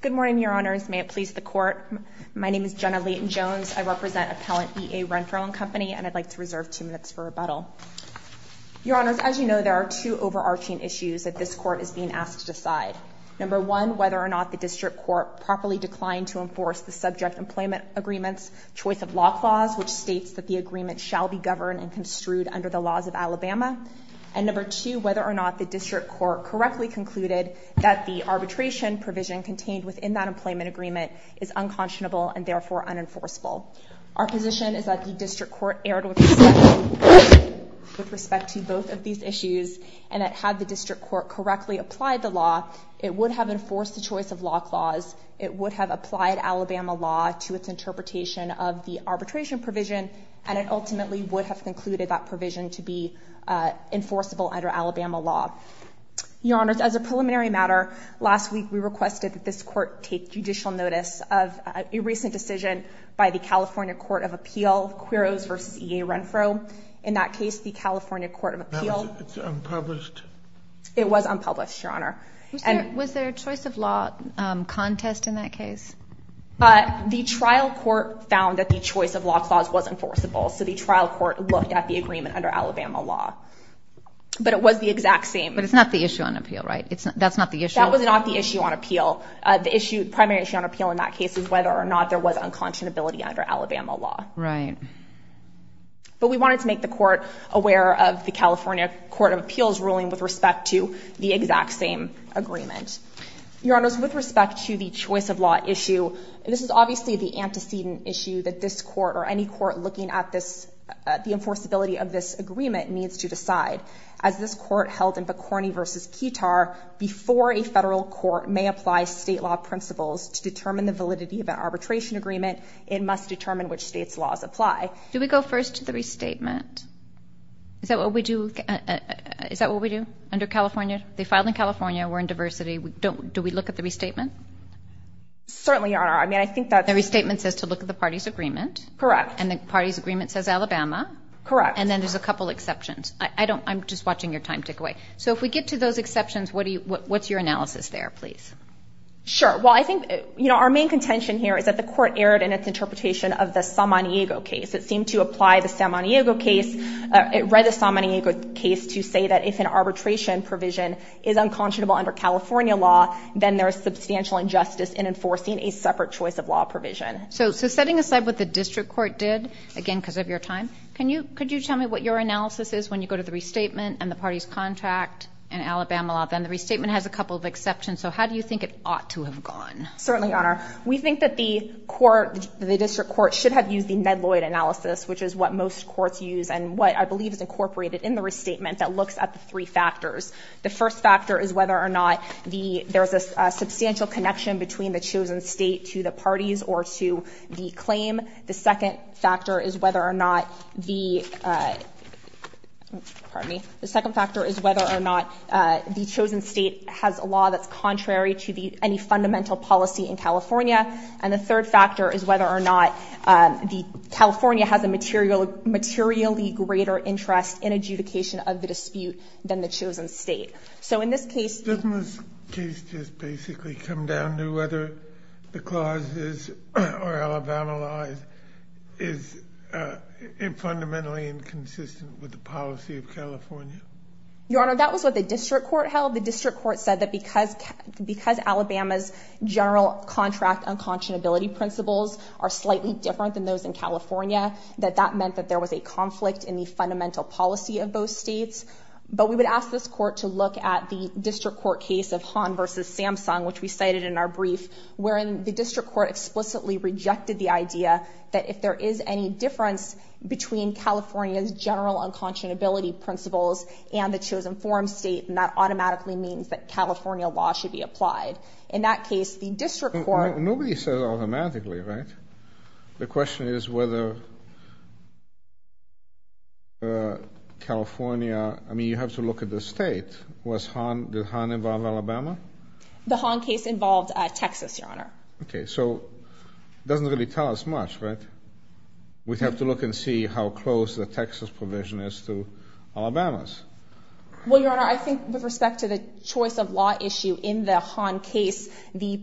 Good morning, Your Honors. May it please the Court. My name is Jenna Leighton-Jones. I represent Appellant E.A. Renfroe & Co. and I'd like to reserve two minutes for rebuttal. Your Honors, as you know, there are two overarching issues that this Court is being asked to decide. Number one, whether or not the District Court properly declined to enforce the subject employment agreement's choice of lock laws, which states that the agreement shall be governed and construed under the laws of Alabama. And number two, whether or not the District Court correctly concluded that the arbitration provision contained within that employment agreement is unconscionable and therefore unenforceable. Our position is that the District Court erred with respect to both of these issues and that had the District Court correctly applied the law, it would have enforced the choice of lock laws, it would have applied Alabama law to its interpretation of the arbitration provision, and it ultimately would have concluded that provision to be enforceable under Alabama law. Your Honors, as a preliminary matter, last week we requested that this Court take judicial notice of a recent decision by the California Court of Appeal, Quiros v. E.A. Renfroe. In that case, the California Court of Appeal... That was unpublished? It was unpublished, Your Honor. Was there a choice of law contest in that case? The trial court found that the choice of lock laws was enforceable, so the trial court looked at the agreement under Alabama law. But it was the exact same... But it's not the issue on appeal, right? That's not the issue? That was not the issue on appeal. The primary issue on appeal in that case is whether or not there was unconscionability under Alabama law. Right. But we wanted to make the Court aware of the California Court of Appeal's ruling with respect to the exact same agreement. Your Honors, with respect to the choice of law issue, this is obviously the antecedent issue that this Court or any Court looking at the enforceability of this agreement needs to decide. As this Court held in Bicorny v. Ketar, before a federal court may apply state law principles to determine the validity of an arbitration agreement, it must determine which state's laws apply. Do we go first to the restatement? Is that what we do? Is that what we do under California? They filed in California. We're in diversity. Do we look at the restatement? Certainly, Your Honor. I mean, I think that... The restatement says to look at the party's agreement. Correct. And the party's agreement says Alabama. Correct. And then there's a couple exceptions. I'm just watching your time tick away. So if we get to those exceptions, what's your analysis there, please? Sure. Well, I think, you know, our main contention here is that the Court erred in its interpretation of the San Manigo case. It seemed to apply the San Manigo case. It read the San Manigo case to say that if an arbitration provision is unconscionable under California law, then there is substantial injustice in enforcing a separate choice of law provision. So setting aside what the district court did, again, because of your time, could you tell me what your analysis is when you go to the restatement and the party's contract in Alabama law? Then the restatement has a couple of exceptions. So how do you think it ought to have gone? Certainly, Your Honor. We think that the court, the district court, should have used the Nedloyd analysis, which is what most courts use and what I believe is incorporated in the restatement that looks at the three factors. The first factor is whether or not there's a substantial connection between the chosen state to the parties or to the claim. The second factor is whether or not the chosen state has a law that's contrary to any fundamental policy in California. And the third factor is whether or not California has a materially greater interest in adjudication of the dispute than the chosen state. Doesn't this case just basically come down to whether the clauses or Alabama law is fundamentally inconsistent with the policy of California? Your Honor, that was what the district court held. The district court said that because Alabama's general contract unconscionability principles are slightly different than those in California, that that meant that there was a conflict in the fundamental policy of both states. But we would ask this court to look at the district court case of Hahn v. Samsung, which we cited in our brief, wherein the district court explicitly rejected the idea that if there is any difference between California's general unconscionability principles and the chosen forum state, then that automatically means that California law should be applied. In that case, the district court — Nobody says automatically, right? The question is whether California — I mean, you have to look at the state. Was Hahn — did Hahn involve Alabama? The Hahn case involved Texas, Your Honor. Okay, so it doesn't really tell us much, right? We'd have to look and see how close the Texas provision is to Alabama's. Well, Your Honor, I think with respect to the choice of law issue in the Hahn case, the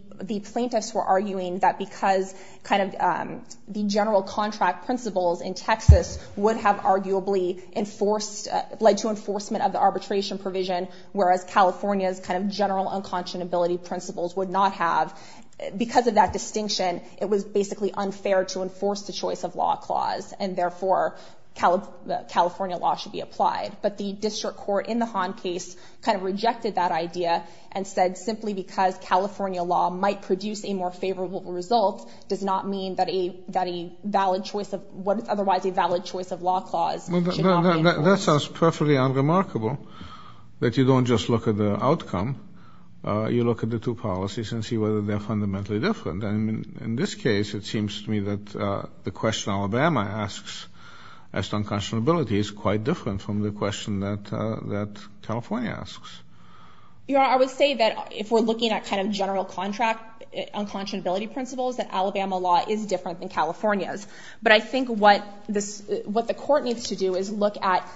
plaintiffs were arguing that because kind of the general contract principles in Texas would have arguably enforced — led to enforcement of the arbitration provision, whereas California's kind of general unconscionability principles would not have, because of that distinction, it was basically unfair to enforce the choice of law clause, and therefore California law should be applied. But the district court in the Hahn case kind of rejected that idea and said simply because California law might produce a more favorable result does not mean that a valid choice of — otherwise a valid choice of law clause should not be enforced. That sounds perfectly unremarkable, that you don't just look at the outcome. You look at the two policies and see whether they're fundamentally different. And in this case, it seems to me that the question Alabama asks as to unconscionability is quite different from the question that California asks. Your Honor, I would say that if we're looking at kind of general contract unconscionability principles, that Alabama law is different than California's. But I think what the court needs to do is look at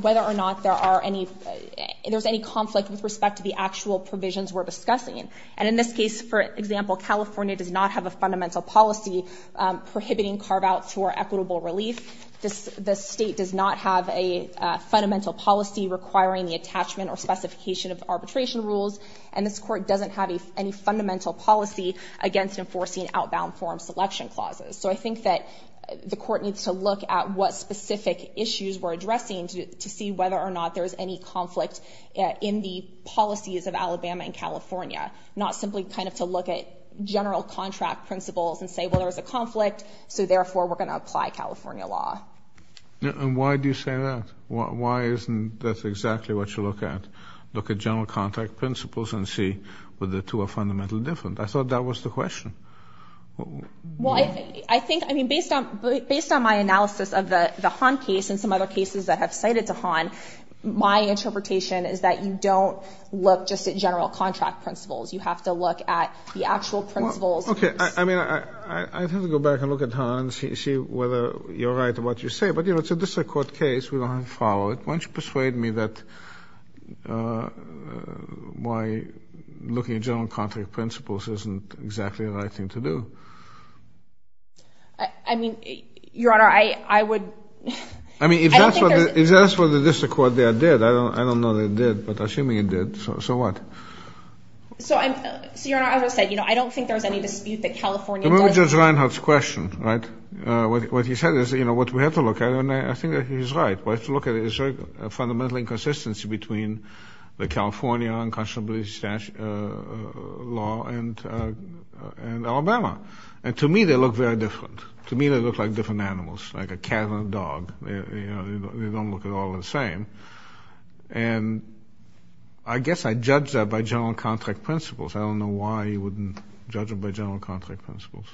whether or not there are any — if there's any conflict with respect to the actual provisions we're discussing. And in this case, for example, California does not have a fundamental policy prohibiting carve-outs for equitable relief. The state does not have a fundamental policy requiring the attachment or specification of arbitration rules. And this court doesn't have any fundamental policy against enforcing outbound form selection clauses. So I think that the court needs to look at what specific issues we're addressing to see whether or not there's any conflict in the policies of Alabama and California, not simply kind of to look at general contract principles and say, well, there's a conflict, so therefore we're going to apply California law. And why do you say that? Why isn't that exactly what you look at, look at general contract principles and see whether the two are fundamentally different? I thought that was the question. Well, I think — I mean, based on my analysis of the Hahn case and some other cases that have cited Hahn, my interpretation is that you don't look just at general contract principles. You have to look at the actual principles. Okay. I mean, I'd have to go back and look at Hahn and see whether you're right in what you say. But, you know, it's a district court case. We don't have to follow it. Why don't you persuade me that why looking at general contract principles isn't exactly the right thing to do? I mean, Your Honor, I would — I mean, if that's what the district court there did, I don't know that it did, but assuming it did, so what? So, Your Honor, as I said, you know, I don't think there's any dispute that California doesn't — Remember Judge Reinhart's question, right? What he said is, you know, what we have to look at, and I think that he's right. We have to look at a fundamental inconsistency between the California unconscionability statute law and Alabama. And to me, they look very different. To me, they look like different animals, like a cat and a dog. You know, they don't look at all the same. And I guess I judge that by general contract principles. I don't know why you wouldn't judge it by general contract principles.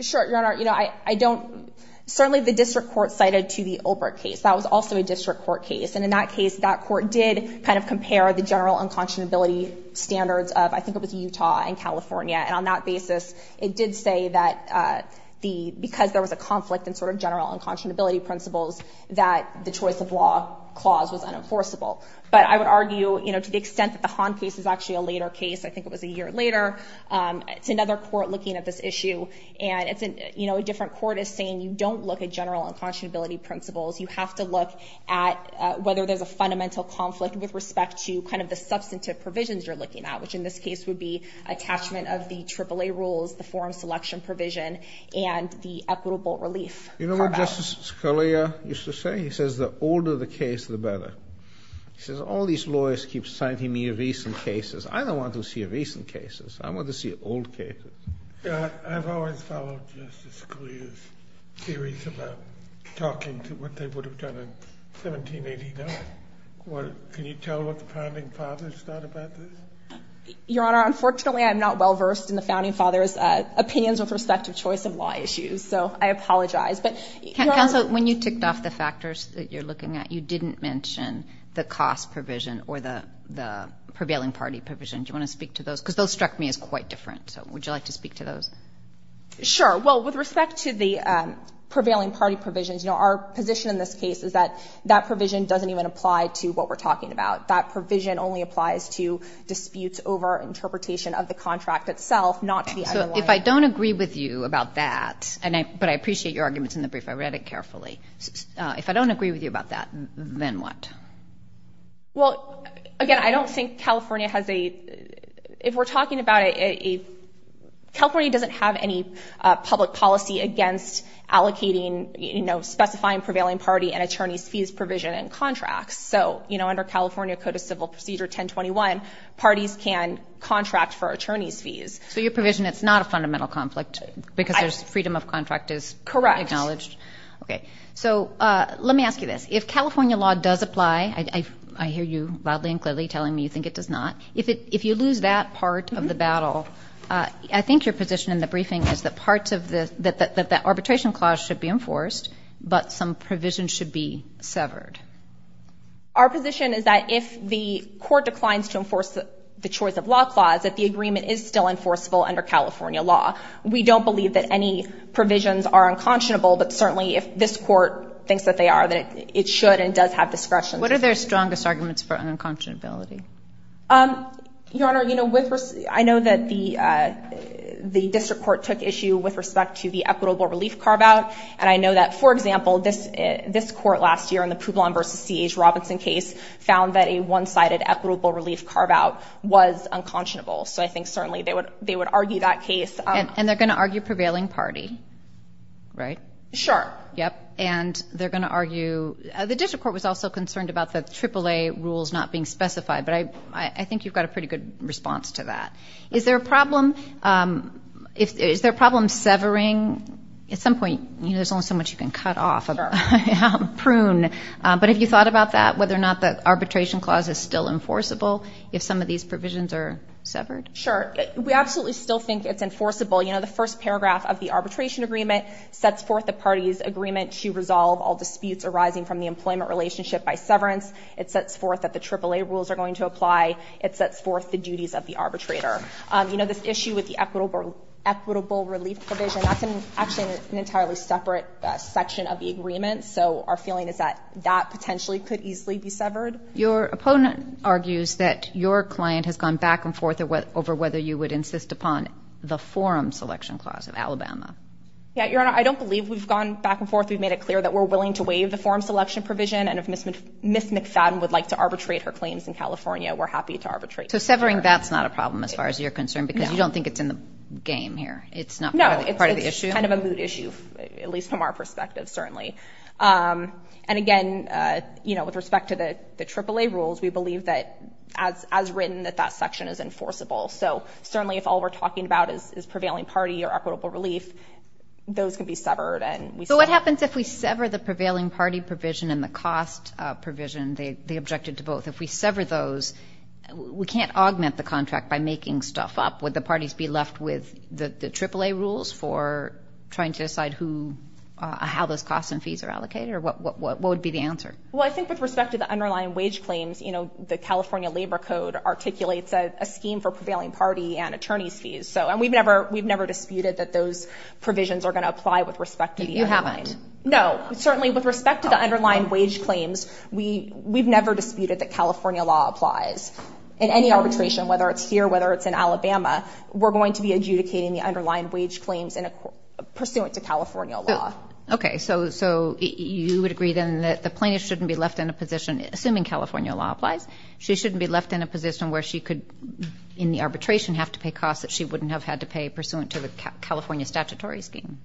Sure, Your Honor. You know, I don't — certainly the district court cited to the Olbert case. That was also a district court case. And in that case, that court did kind of compare the general unconscionability standards of, I think it was Utah and California. And on that basis, it did say that the — because there was a conflict in sort of general unconscionability principles, that the choice of law clause was unenforceable. But I would argue, you know, to the extent that the Hahn case is actually a later case, I think it was a year later, it's another court looking at this issue. And it's, you know, a different court is saying you don't look at general unconscionability principles. You have to look at whether there's a fundamental conflict with respect to kind of the substantive provisions you're looking at, which in this case would be attachment of the AAA rules, the forum selection provision, and the equitable relief part of it. You know what Justice Scalia used to say? He says the older the case, the better. He says all these lawyers keep citing me recent cases. I don't want to see recent cases. I want to see old cases. I've always followed Justice Scalia's theories about talking to what they would have done in 1789. Can you tell what the founding fathers thought about this? Your Honor, unfortunately I'm not well versed in the founding fathers' opinions with respect to choice of law issues. So I apologize. Counsel, when you ticked off the factors that you're looking at, you didn't mention the cost provision or the prevailing party provision. Do you want to speak to those? Because those struck me as quite different. So would you like to speak to those? Well, with respect to the prevailing party provisions, you know, our position in this case is that that provision doesn't even apply to what we're talking about. That provision only applies to disputes over interpretation of the contract itself, not to the underlying. So if I don't agree with you about that, but I appreciate your arguments in the brief. I read it carefully. If I don't agree with you about that, then what? Well, again, I don't think California has a, if we're talking about a, California doesn't have any public policy against allocating, you know, specifying prevailing party and attorney's fees provision in contracts. So, you know, under California Code of Civil Procedure 1021, parties can contract for attorney's fees. So your provision, it's not a fundamental conflict because there's freedom of contract is acknowledged. Correct. Okay. So let me ask you this. If California law does apply, I hear you loudly and clearly telling me you think it does not, if you lose that part of the battle, I think your position in the briefing is that parts of the, that the arbitration clause should be enforced, but some provision should be severed. Our position is that if the court declines to enforce the choice of law clause, that the agreement is still enforceable under California law. We don't believe that any provisions are unconscionable, but certainly if this court thinks that they are, that it should and does have discretion. What are their strongest arguments for unconscionability? Your Honor, you know, with, I know that the, the district court took issue with respect to the equitable relief carve-out. And I know that, for example, this, this court last year in the Publon versus C.H. Robinson case found that a one-sided equitable relief carve-out was unconscionable. So I think certainly they would, they would argue that case. And they're going to argue prevailing party, right? Sure. Yep. And they're going to argue, the district court was also concerned about the AAA rules not being specified, but I, I think you've got a pretty good response to that. Is there a problem? Is there a problem severing? At some point, you know, there's only so much you can cut off. Sure. Prune. But have you thought about that, whether or not the arbitration clause is still enforceable if some of these provisions are severed? Sure. We absolutely still think it's enforceable. You know, the first paragraph of the arbitration agreement sets forth the party's agreement to resolve all disputes arising from the employment relationship by severance. It sets forth that the AAA rules are going to apply. It sets forth the duties of the arbitrator. You know, this issue with the equitable relief provision, that's actually an entirely separate section of the agreement. So our feeling is that that potentially could easily be severed. Your opponent argues that your client has gone back and forth over whether you would insist upon the forum selection clause of Alabama. Yeah. Your Honor, I don't believe we've gone back and forth. We've made it clear that we're willing to waive the forum selection provision, and if Ms. McFadden would like to arbitrate her claims in California, we're happy to arbitrate. So severing, that's not a problem as far as you're concerned, because you don't think it's in the game here. No. It's not part of the issue? It's kind of a mood issue, at least from our perspective, certainly. And again, you know, with respect to the AAA rules, we believe that as written that that section is enforceable. So certainly if all we're talking about is prevailing party or equitable relief, those can be severed. So what happens if we sever the prevailing party provision and the cost provision? They objected to both. If we sever those, we can't augment the contract by making stuff up. Would the parties be left with the AAA rules for trying to decide who, how those costs and fees are allocated, or what would be the answer? Well, I think with respect to the underlying wage claims, you know, the California Labor Code articulates a scheme for prevailing party and attorney's fees. And we've never disputed that those provisions are going to apply with respect to the underlying. You haven't? No. Certainly with respect to the underlying wage claims, we've never disputed that California law applies. In any arbitration, whether it's here, whether it's in Alabama, we're going to be adjudicating the underlying wage claims pursuant to California law. Okay. So you would agree then that the plaintiff shouldn't be left in a position, assuming California law applies, she shouldn't be left in a position where she could, in the arbitration, have to pay costs that she wouldn't have had to pay pursuant to the California statutory scheme?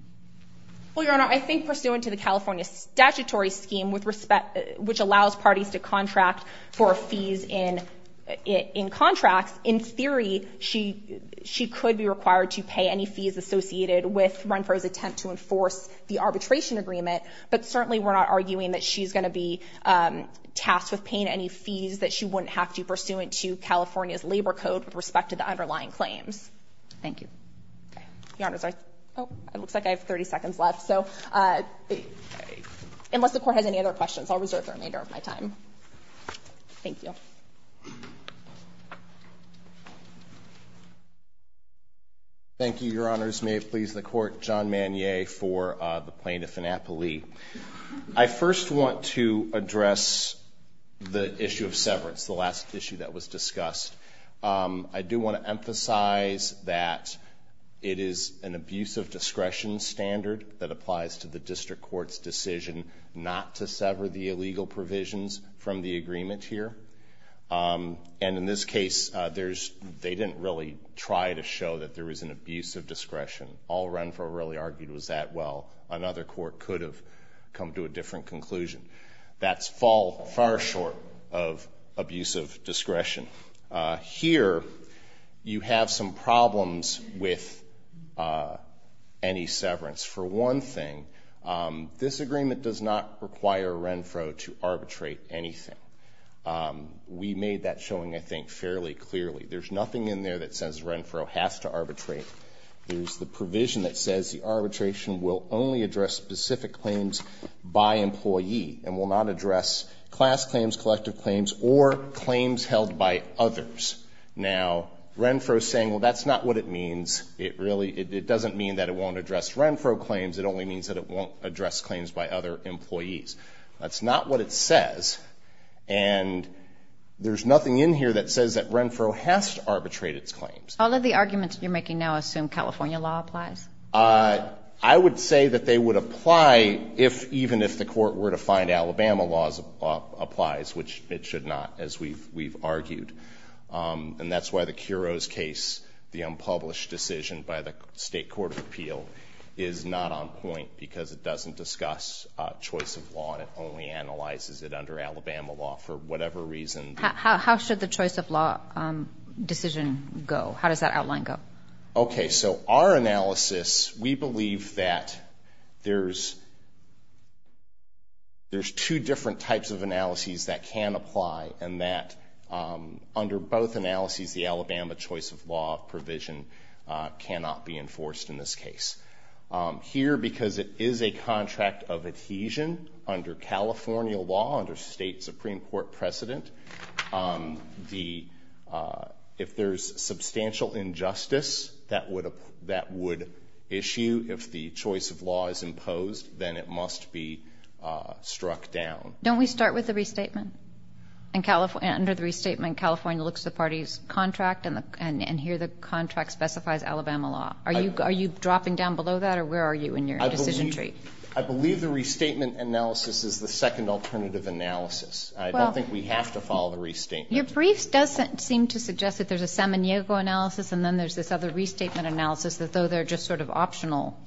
Well, Your Honor, I think pursuant to the California statutory scheme, which allows parties to contract for fees in contracts, in theory she could be required to pay any fees associated with Runford's attempt to enforce the arbitration agreement. But certainly we're not arguing that she's going to be tasked with paying any fees that she wouldn't have to pursuant to California's Labor Code with respect to the underlying claims. Thank you. Okay. Your Honor, sorry. Oh, it looks like I have 30 seconds left. So unless the Court has any other questions, I'll reserve the remainder of my time. Thank you. Thank you, Your Honors. May it please the Court. John Manier for the plaintiff in Appali. I first want to address the issue of severance, the last issue that was discussed. I do want to emphasize that it is an abuse of discretion standard that applies to the District Court's decision not to sever the illegal provisions from the agreement here. And in this case, they didn't really try to show that there was an abuse of discretion. All Runford really argued was that, well, another court could have come to a different conclusion. That's fall far short of abuse of discretion. Here you have some problems with any severance. For one thing, this agreement does not require Renfro to arbitrate anything. We made that showing, I think, fairly clearly. There's nothing in there that says Renfro has to arbitrate. There's the provision that says the arbitration will only address specific claims by employee and will not address class claims, collective claims or claims held by others. Now Renfro saying, well, that's not what it means. It really, it doesn't mean that it won't address Renfro claims. It only means that it won't address claims by other employees. That's not what it says. And there's nothing in here that says that Renfro has to arbitrate its claims. All of the arguments you're making now assume California law applies. I would say that they would apply if, even if the court were to find Alabama laws applies, which it should not, as we've, we've argued. And that's why the Kuro's case, the unpublished decision by the state court of appeal is not on point because it doesn't discuss choice of law and it only analyzes it under Alabama law for whatever reason. How should the choice of law decision go? How does that outline go? Okay. So our analysis, we believe that there's, there's two different types of analyses that can apply and that under both analyses, the Alabama choice of law provision cannot be enforced in this case here, because it is a contract of adhesion under California law under state Supreme court precedent. The if there's substantial injustice, that would that would issue if the choice of law is imposed, then it must be struck down. Don't we start with the restatement and California under the restatement California looks at the party's contract and the, and here the contract specifies Alabama law. Are you, are you dropping down below that or where are you in your decision tree? I believe the restatement analysis is the second alternative analysis. I don't think we have to follow the restatement. Your briefs doesn't seem to suggest that there's a salmon, Diego analysis and then there's this other restatement analysis that though they're just sort of optional.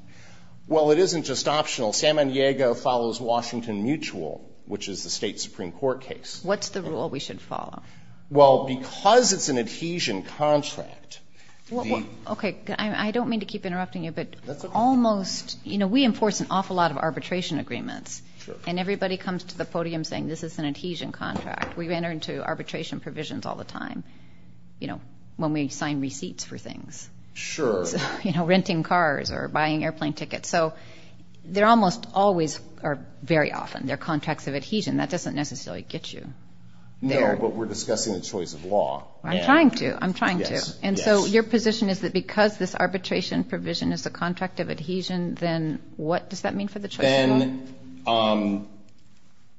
Well, it isn't just optional. Salmon Diego follows Washington mutual, which is the state Supreme court case. What's the rule we should follow? Well, because it's an adhesion contract. Okay. I don't mean to keep interrupting you, but that's almost, you know, we enforce an awful lot of arbitration agreements and everybody comes to the podium saying this is an adhesion contract. We've entered into arbitration provisions all the time. You know, when we sign receipts for things, sure, you know, renting cars or buying airplane tickets. So they're almost always are very often their contracts of adhesion. That doesn't necessarily get you there, but we're discussing the choice of law. I'm trying to, I'm trying to. And so your position is that because this arbitration provision is the contract of adhesion, then what does that mean for the choice? Then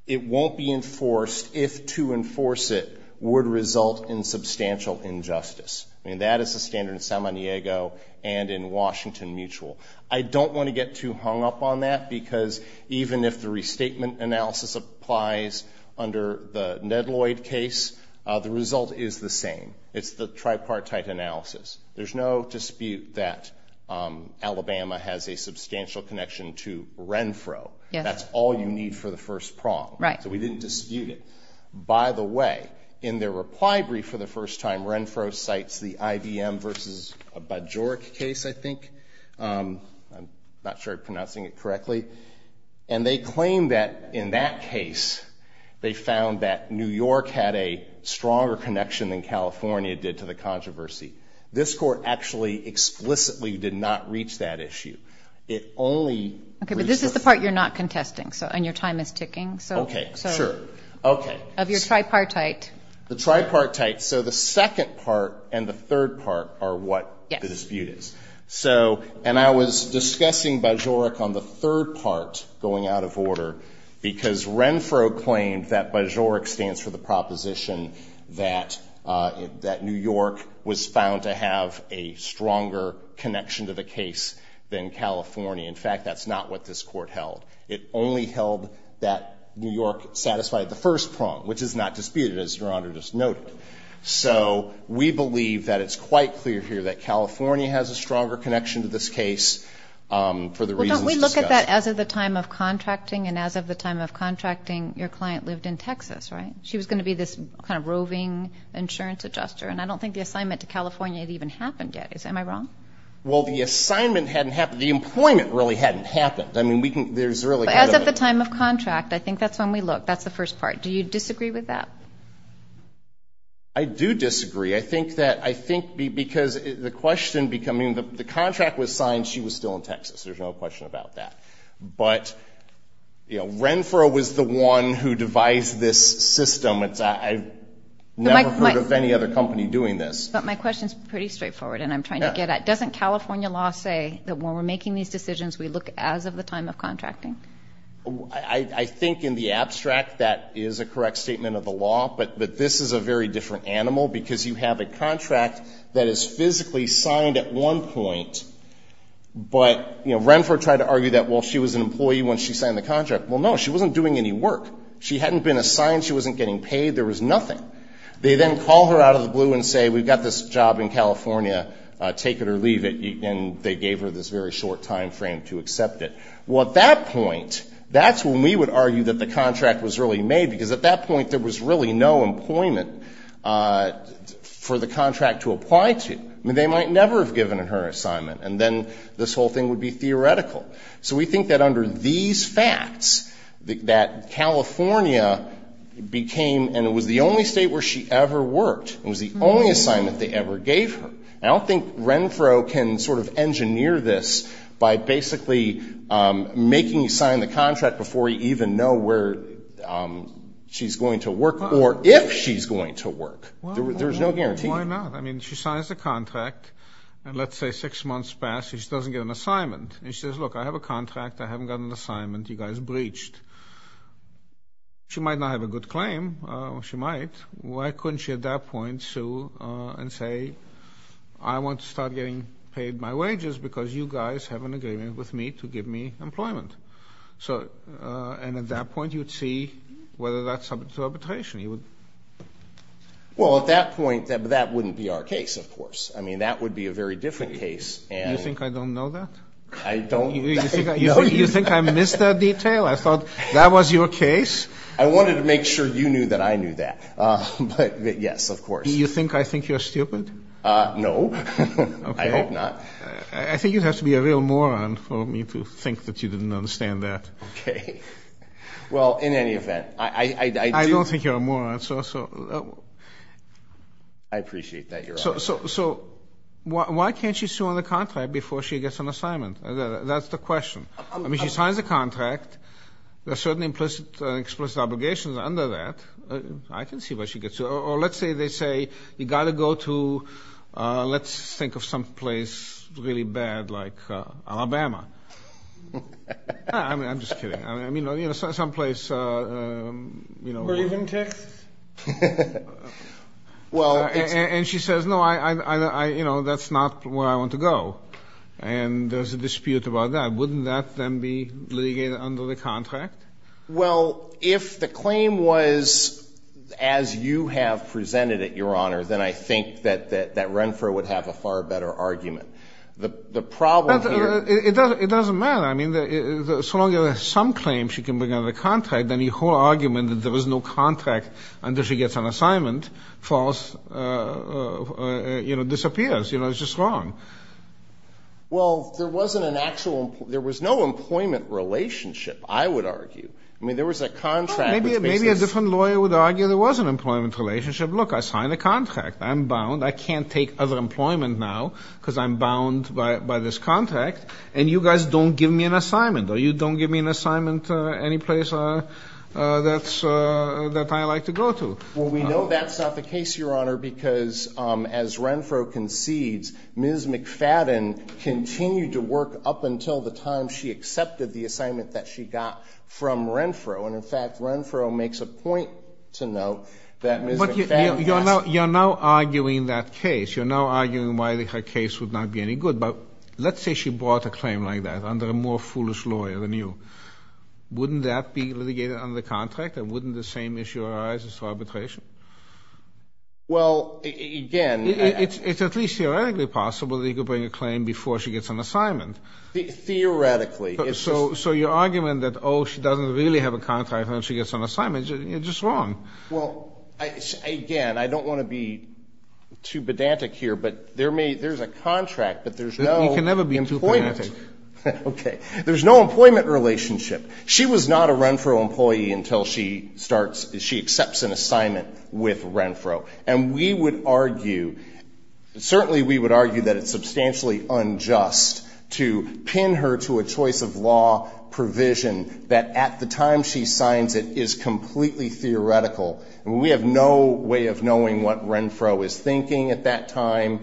it won't be enforced. If to enforce it would result in substantial injustice. I mean, that is the standard in San Diego and in Washington mutual. I don't want to get too hung up on that because even if the restatement analysis applies under the Ned Lloyd case, the result is the same. It's the tripartite analysis. There's no dispute that Alabama has a substantial connection to Renfro. That's all you need for the first prong. Right. So we didn't dispute it. By the way, in their reply brief for the first time, Renfro cites the IBM versus Bajoric case, I think. I'm not sure I'm pronouncing it correctly. And they claim that in that case, they found that New York had a stronger connection than California did to the controversy. This court actually explicitly did not reach that issue. It only. Okay. But this is the part you're not contesting. So, and your time is ticking. So. Okay. Sure. Okay. Of your tripartite. The tripartite. So the second part and the third part are what the dispute is. So, and I was discussing Bajoric on the third part going out of order because Renfro claimed that Bajoric stands for the proposition that, that New York was found to have a stronger connection to the case than California. In fact, that's not what this court held. It only held that New York satisfied the first prong, which is not disputed as Your Honor just noted. So we believe that it's quite clear here that California has a stronger connection to this case for the reasons discussed. Well, don't we look at that as of the time of contracting and as of the time of contracting, your client lived in Texas, right? She was going to be this kind of roving insurance adjuster. And I don't think the assignment to California had even happened yet. Am I wrong? Well, the assignment hadn't happened. The employment really hadn't happened. I mean, we can, there's really, as at the time of contract, I think that's when we look, that's the first part. Do you disagree with that? I do disagree. I think that, I think because the question becoming the contract was signed, she was still in Texas. There's no question about that. But. Yeah. I mean, Renfro was the one who devised this system. It's, I never heard of any other company doing this, but my question is pretty straightforward and I'm trying to get at, doesn't California law say that when we're making these decisions, we look as of the time of contracting. I think in the abstract, that is a correct statement of the law, but, but this is a very different animal because you have a contract that is physically signed at one point. But, you know, Renfro tried to argue that while she was an employee, when she signed the contract, well, no, she wasn't doing any work. She hadn't been assigned. She wasn't getting paid. There was nothing. They then call her out of the blue and say, we've got this job in California, take it or leave it. And they gave her this very short timeframe to accept it. Well, at that point, that's when we would argue that the contract was really made because at that point, there was really no employment for the contract to apply to. I mean, they might never have given her an assignment and then this whole thing would be theoretical. So we think that under these facts, that California became, and it was the only state where she ever worked. It was the only assignment they ever gave her. I don't think Renfro can sort of engineer this by basically making you sign the contract before you even know where she's going to work or if she's going to work. There's no guarantee. Why not? I mean, she signs the contract and let's say six months pass, she just doesn't get an assignment. And she says, look, I have a contract. I haven't gotten an assignment. You guys breached. She might not have a good claim. She might. Why couldn't she at that point sue and say, I want to start getting paid my wages because you guys have an agreement with me to give me employment. So, and at that point you would see whether that's up to arbitration. You would. Well, at that point, that wouldn't be our case, of course. I mean, that would be a very different case. You think I don't know that? I don't. You think I missed that detail? I thought that was your case. I wanted to make sure you knew that I knew that. But, yes, of course. You think I think you're stupid? No. I hope not. I think you'd have to be a real moron for me to think that you didn't understand that. Okay. Well, in any event, I don't think you're a moron. I appreciate that. So, why can't she sue on the contract before she gets an assignment? That's the question. I mean, she signs the contract. There are certain explicit obligations under that. I can see why she gets sued. Or let's say they say, you've got to go to, let's think of some place really bad like Alabama. I'm just kidding. I mean, some place, you know. Raven Tick? Well, and she says, no, I, you know, that's not where I want to go. And there's a dispute about that. Wouldn't that then be litigated under the contract? Well, if the claim was, as you have presented it, Your Honor, then I think that, that, that Renfro would have a far better argument. The, the problem. It doesn't, it doesn't matter. I mean, so long as there's some claim she can bring on the contract, then your whole argument that there was no contract until she gets an assignment falls, you know, disappears. You know, it's just wrong. Well, there wasn't an actual, there was no employment relationship, I would argue. I mean, there was a contract. Maybe, maybe a different lawyer would argue there was an employment relationship. Look, I signed a contract. I'm bound. I can't take other employment now because I'm bound by, by this contract. And you guys don't give me an assignment. Or you don't give me an assignment any place that's, that I like to go to. Well, we know that's not the case, Your Honor, because as Renfro concedes, Ms. McFadden continued to work up until the time she accepted the assignment that she got from Renfro. And in fact, Renfro makes a point to note that Ms. McFadden. You're now, you're now arguing that case. You're now arguing why the case would not be any good. Let's say she brought a claim like that under a more foolish lawyer than you. Wouldn't that be litigated under the contract? And wouldn't the same issue arise as arbitration? Well, again. It's at least theoretically possible that he could bring a claim before she gets an assignment. Theoretically. So, so your argument that, oh, she doesn't really have a contract and she gets an assignment, you're just wrong. Well, again, I don't want to be too pedantic here, but there may, there's a contract, but there's no. You can never be too pedantic. Okay. There's no employment relationship. She was not a Renfro employee until she starts, she accepts an assignment with Renfro. And we would argue, certainly we would argue that it's substantially unjust to pin her to a choice of law provision that at the time she signs it is completely theoretical. I mean, we have no way of knowing what Renfro is thinking at that time.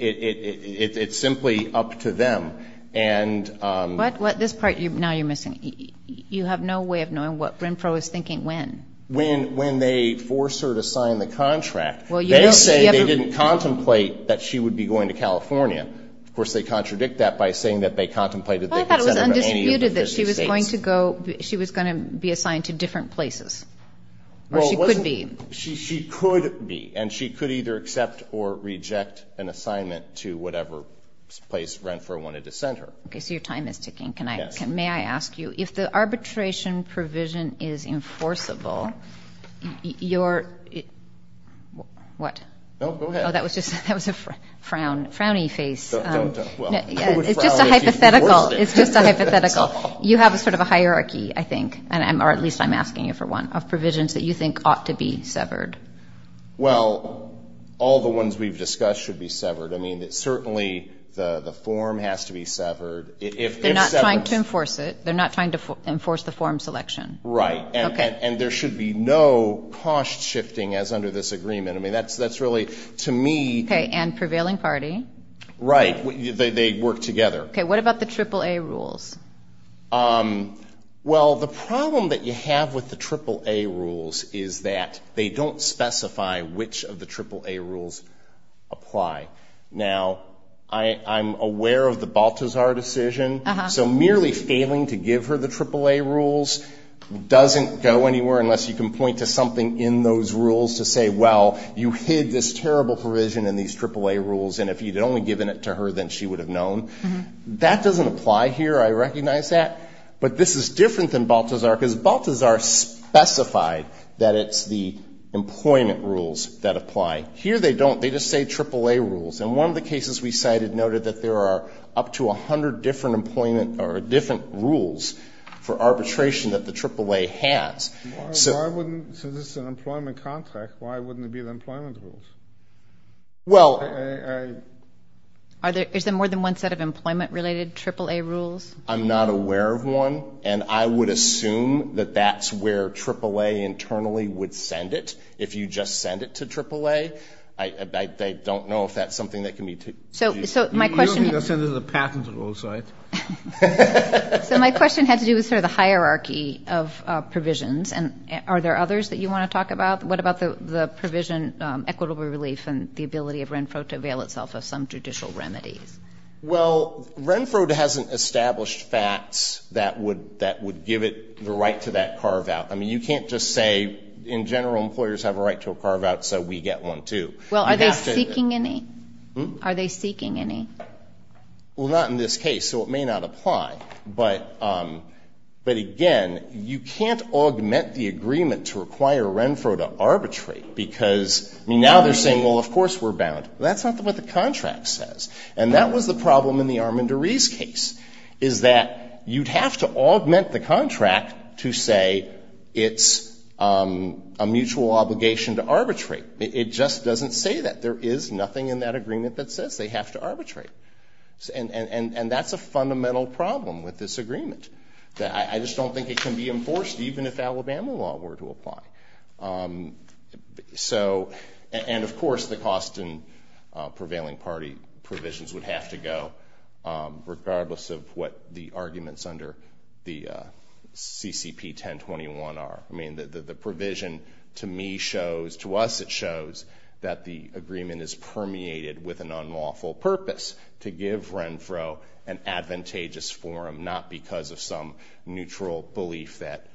It's simply up to them. And. What, what, this part, now you're missing. You have no way of knowing what Renfro is thinking when. When, when they force her to sign the contract, they are saying they didn't contemplate that she would be going to California. Of course, they contradict that by saying that they contemplated that she was going to go, she was going to be assigned to different places. Well, she could be, she, she could be, and she could either accept or reject an assignment to whatever place Renfro wanted to send her. Okay. So your time is ticking. Can I, can, may I ask you if the arbitration provision is enforceable, your, what? Oh, go ahead. Oh, that was just, that was a frown, frowny face. Well, it's just a hypothetical. It's just a hypothetical. You have a sort of a hierarchy, I think, and I'm, or at least I'm asking you for one of provisions that you think ought to be severed. Well, all the ones we've discussed should be severed. I mean, certainly the, the form has to be severed. If they're not trying to enforce it, they're not trying to enforce the form selection. Right. Okay. And there should be no posh shifting as under this agreement. I mean, that's, that's really to me. Okay. And prevailing party. Right. They work together. Okay. What about the triple A rules? Um, well, the problem that you have with the triple A rules is that they don't specify which of the triple A rules apply. Now, I, I'm aware of the Balthazar decision, so merely failing to give her the triple A rules doesn't go anywhere unless you can point to something in those rules to say, well, you hid this terrible provision in these triple A rules, and if you'd only given it to her, then she would have known. That doesn't apply here. I recognize that. But this is different than Balthazar, because Balthazar specified that it's the employment rules that apply. Here, they don't. They just say triple A rules. And one of the cases we cited noted that there are up to 100 different employment or different rules for arbitration that the triple A has. So I wouldn't, so this is an employment contract. Why wouldn't it be the employment rules? Well, I, are there, is there more than one set of employment related triple A rules? I'm not aware of one, and I would assume that that's where triple A internally would send it. If you just send it to triple A, I, I don't know if that's something that can be. So, so my question is. So my question had to do with sort of the hierarchy of provisions. And are there others that you want to talk about? What about the provision equitable relief and the ability of Renfro to avail itself of some judicial remedies? Well, Renfro hasn't established facts that would, that would give it the right to that carve out. I mean, you can't just say, in general, employers have a right to a carve out, so we get one too. Well, are they seeking any? Are they seeking any? Well, not in this case, so it may not apply. But, but again, you can't augment the agreement to require Renfro to arbitrate, because, I mean, now they're saying, well, of course we're bound. That's not what the contract says. And that was the problem in the Armendariz case, is that you'd have to augment the contract to say it's a mutual obligation to arbitrate. It just doesn't say that. There is nothing in that agreement that says they have to arbitrate. And, and, and that's a fundamental problem with this agreement. I just don't think it can be enforced, even if Alabama law were to apply. So, and, of course, the cost in prevailing party provisions would have to go, regardless of what the arguments under the CCP 1021 are. I mean, the provision, to me, shows, to us, it shows that the agreement is permeated with an unlawful purpose, to give Renfro an advantageous forum, not because of some neutral belief that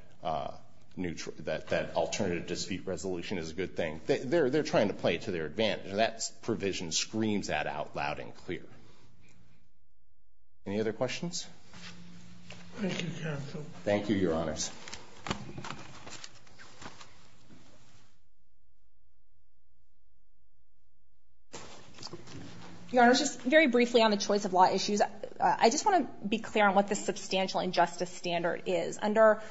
alternative dispute resolution is a good thing. They're trying to play to their advantage. And that provision screams that out loud and clear. Any other questions? Thank you, counsel. Thank you, Your Honors. Your Honors, just very briefly on the choice of law issues. I just want to be clear on what the substantial injustice standard is. Under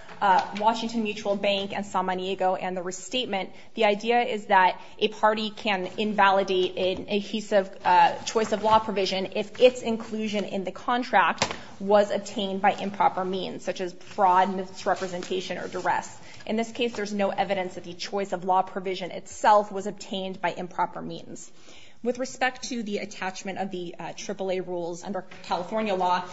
Washington Mutual Bank and Samaniego and the restatement, the idea is that a party can invalidate an adhesive choice of law provision if its inclusion in the contract was obtained by improper means, such as fraud, misrepresentation, or duress. In this case, there's no evidence that the choice of law provision itself was obtained by improper means. With respect to the attachment of the AAA rules under California law,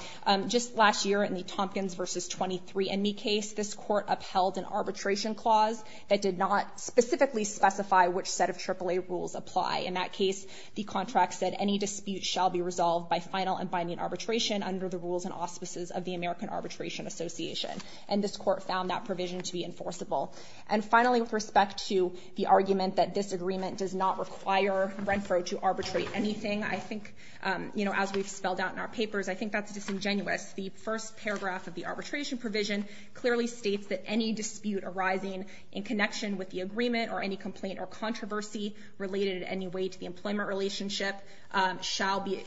just last year in the Tompkins versus 23andMe case, this court upheld an arbitration clause that did not specifically specify which set of AAA rules apply. In that case, the contract said any dispute shall be resolved by final and binding arbitration under the rules and auspices of the American Arbitration Association. And this court found that provision to be enforceable. And finally, with respect to the argument that this agreement does not require Renfro to arbitrate anything, I think, you know, as we've spelled out in our papers, I think that's disingenuous. The first paragraph of the arbitration provision clearly states that any dispute arising in connection with the agreement or any complaint or controversy related in any way to the employment relationship shall be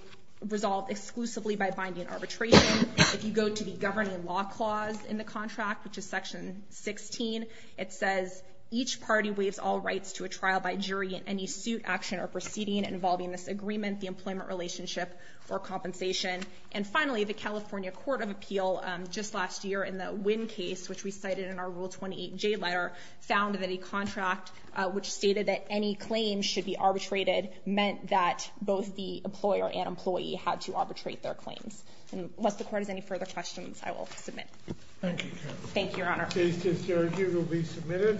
resolved exclusively by binding arbitration. If you go to the governing law clause in the contract, which is section 16, it says each party waives all rights to a trial by jury in any suit, action, or proceeding involving this agreement, the employment relationship, or compensation. And finally, the California Court of Appeal just last year in the Wynn case, which we cited in our Rule 28J letter, found that a contract which stated that any claims should be arbitrated meant that both the employer and employee had to arbitrate their claims. Unless the court has any further questions, I will submit. Thank you, Your Honor. The case is adjourned. You will be submitted.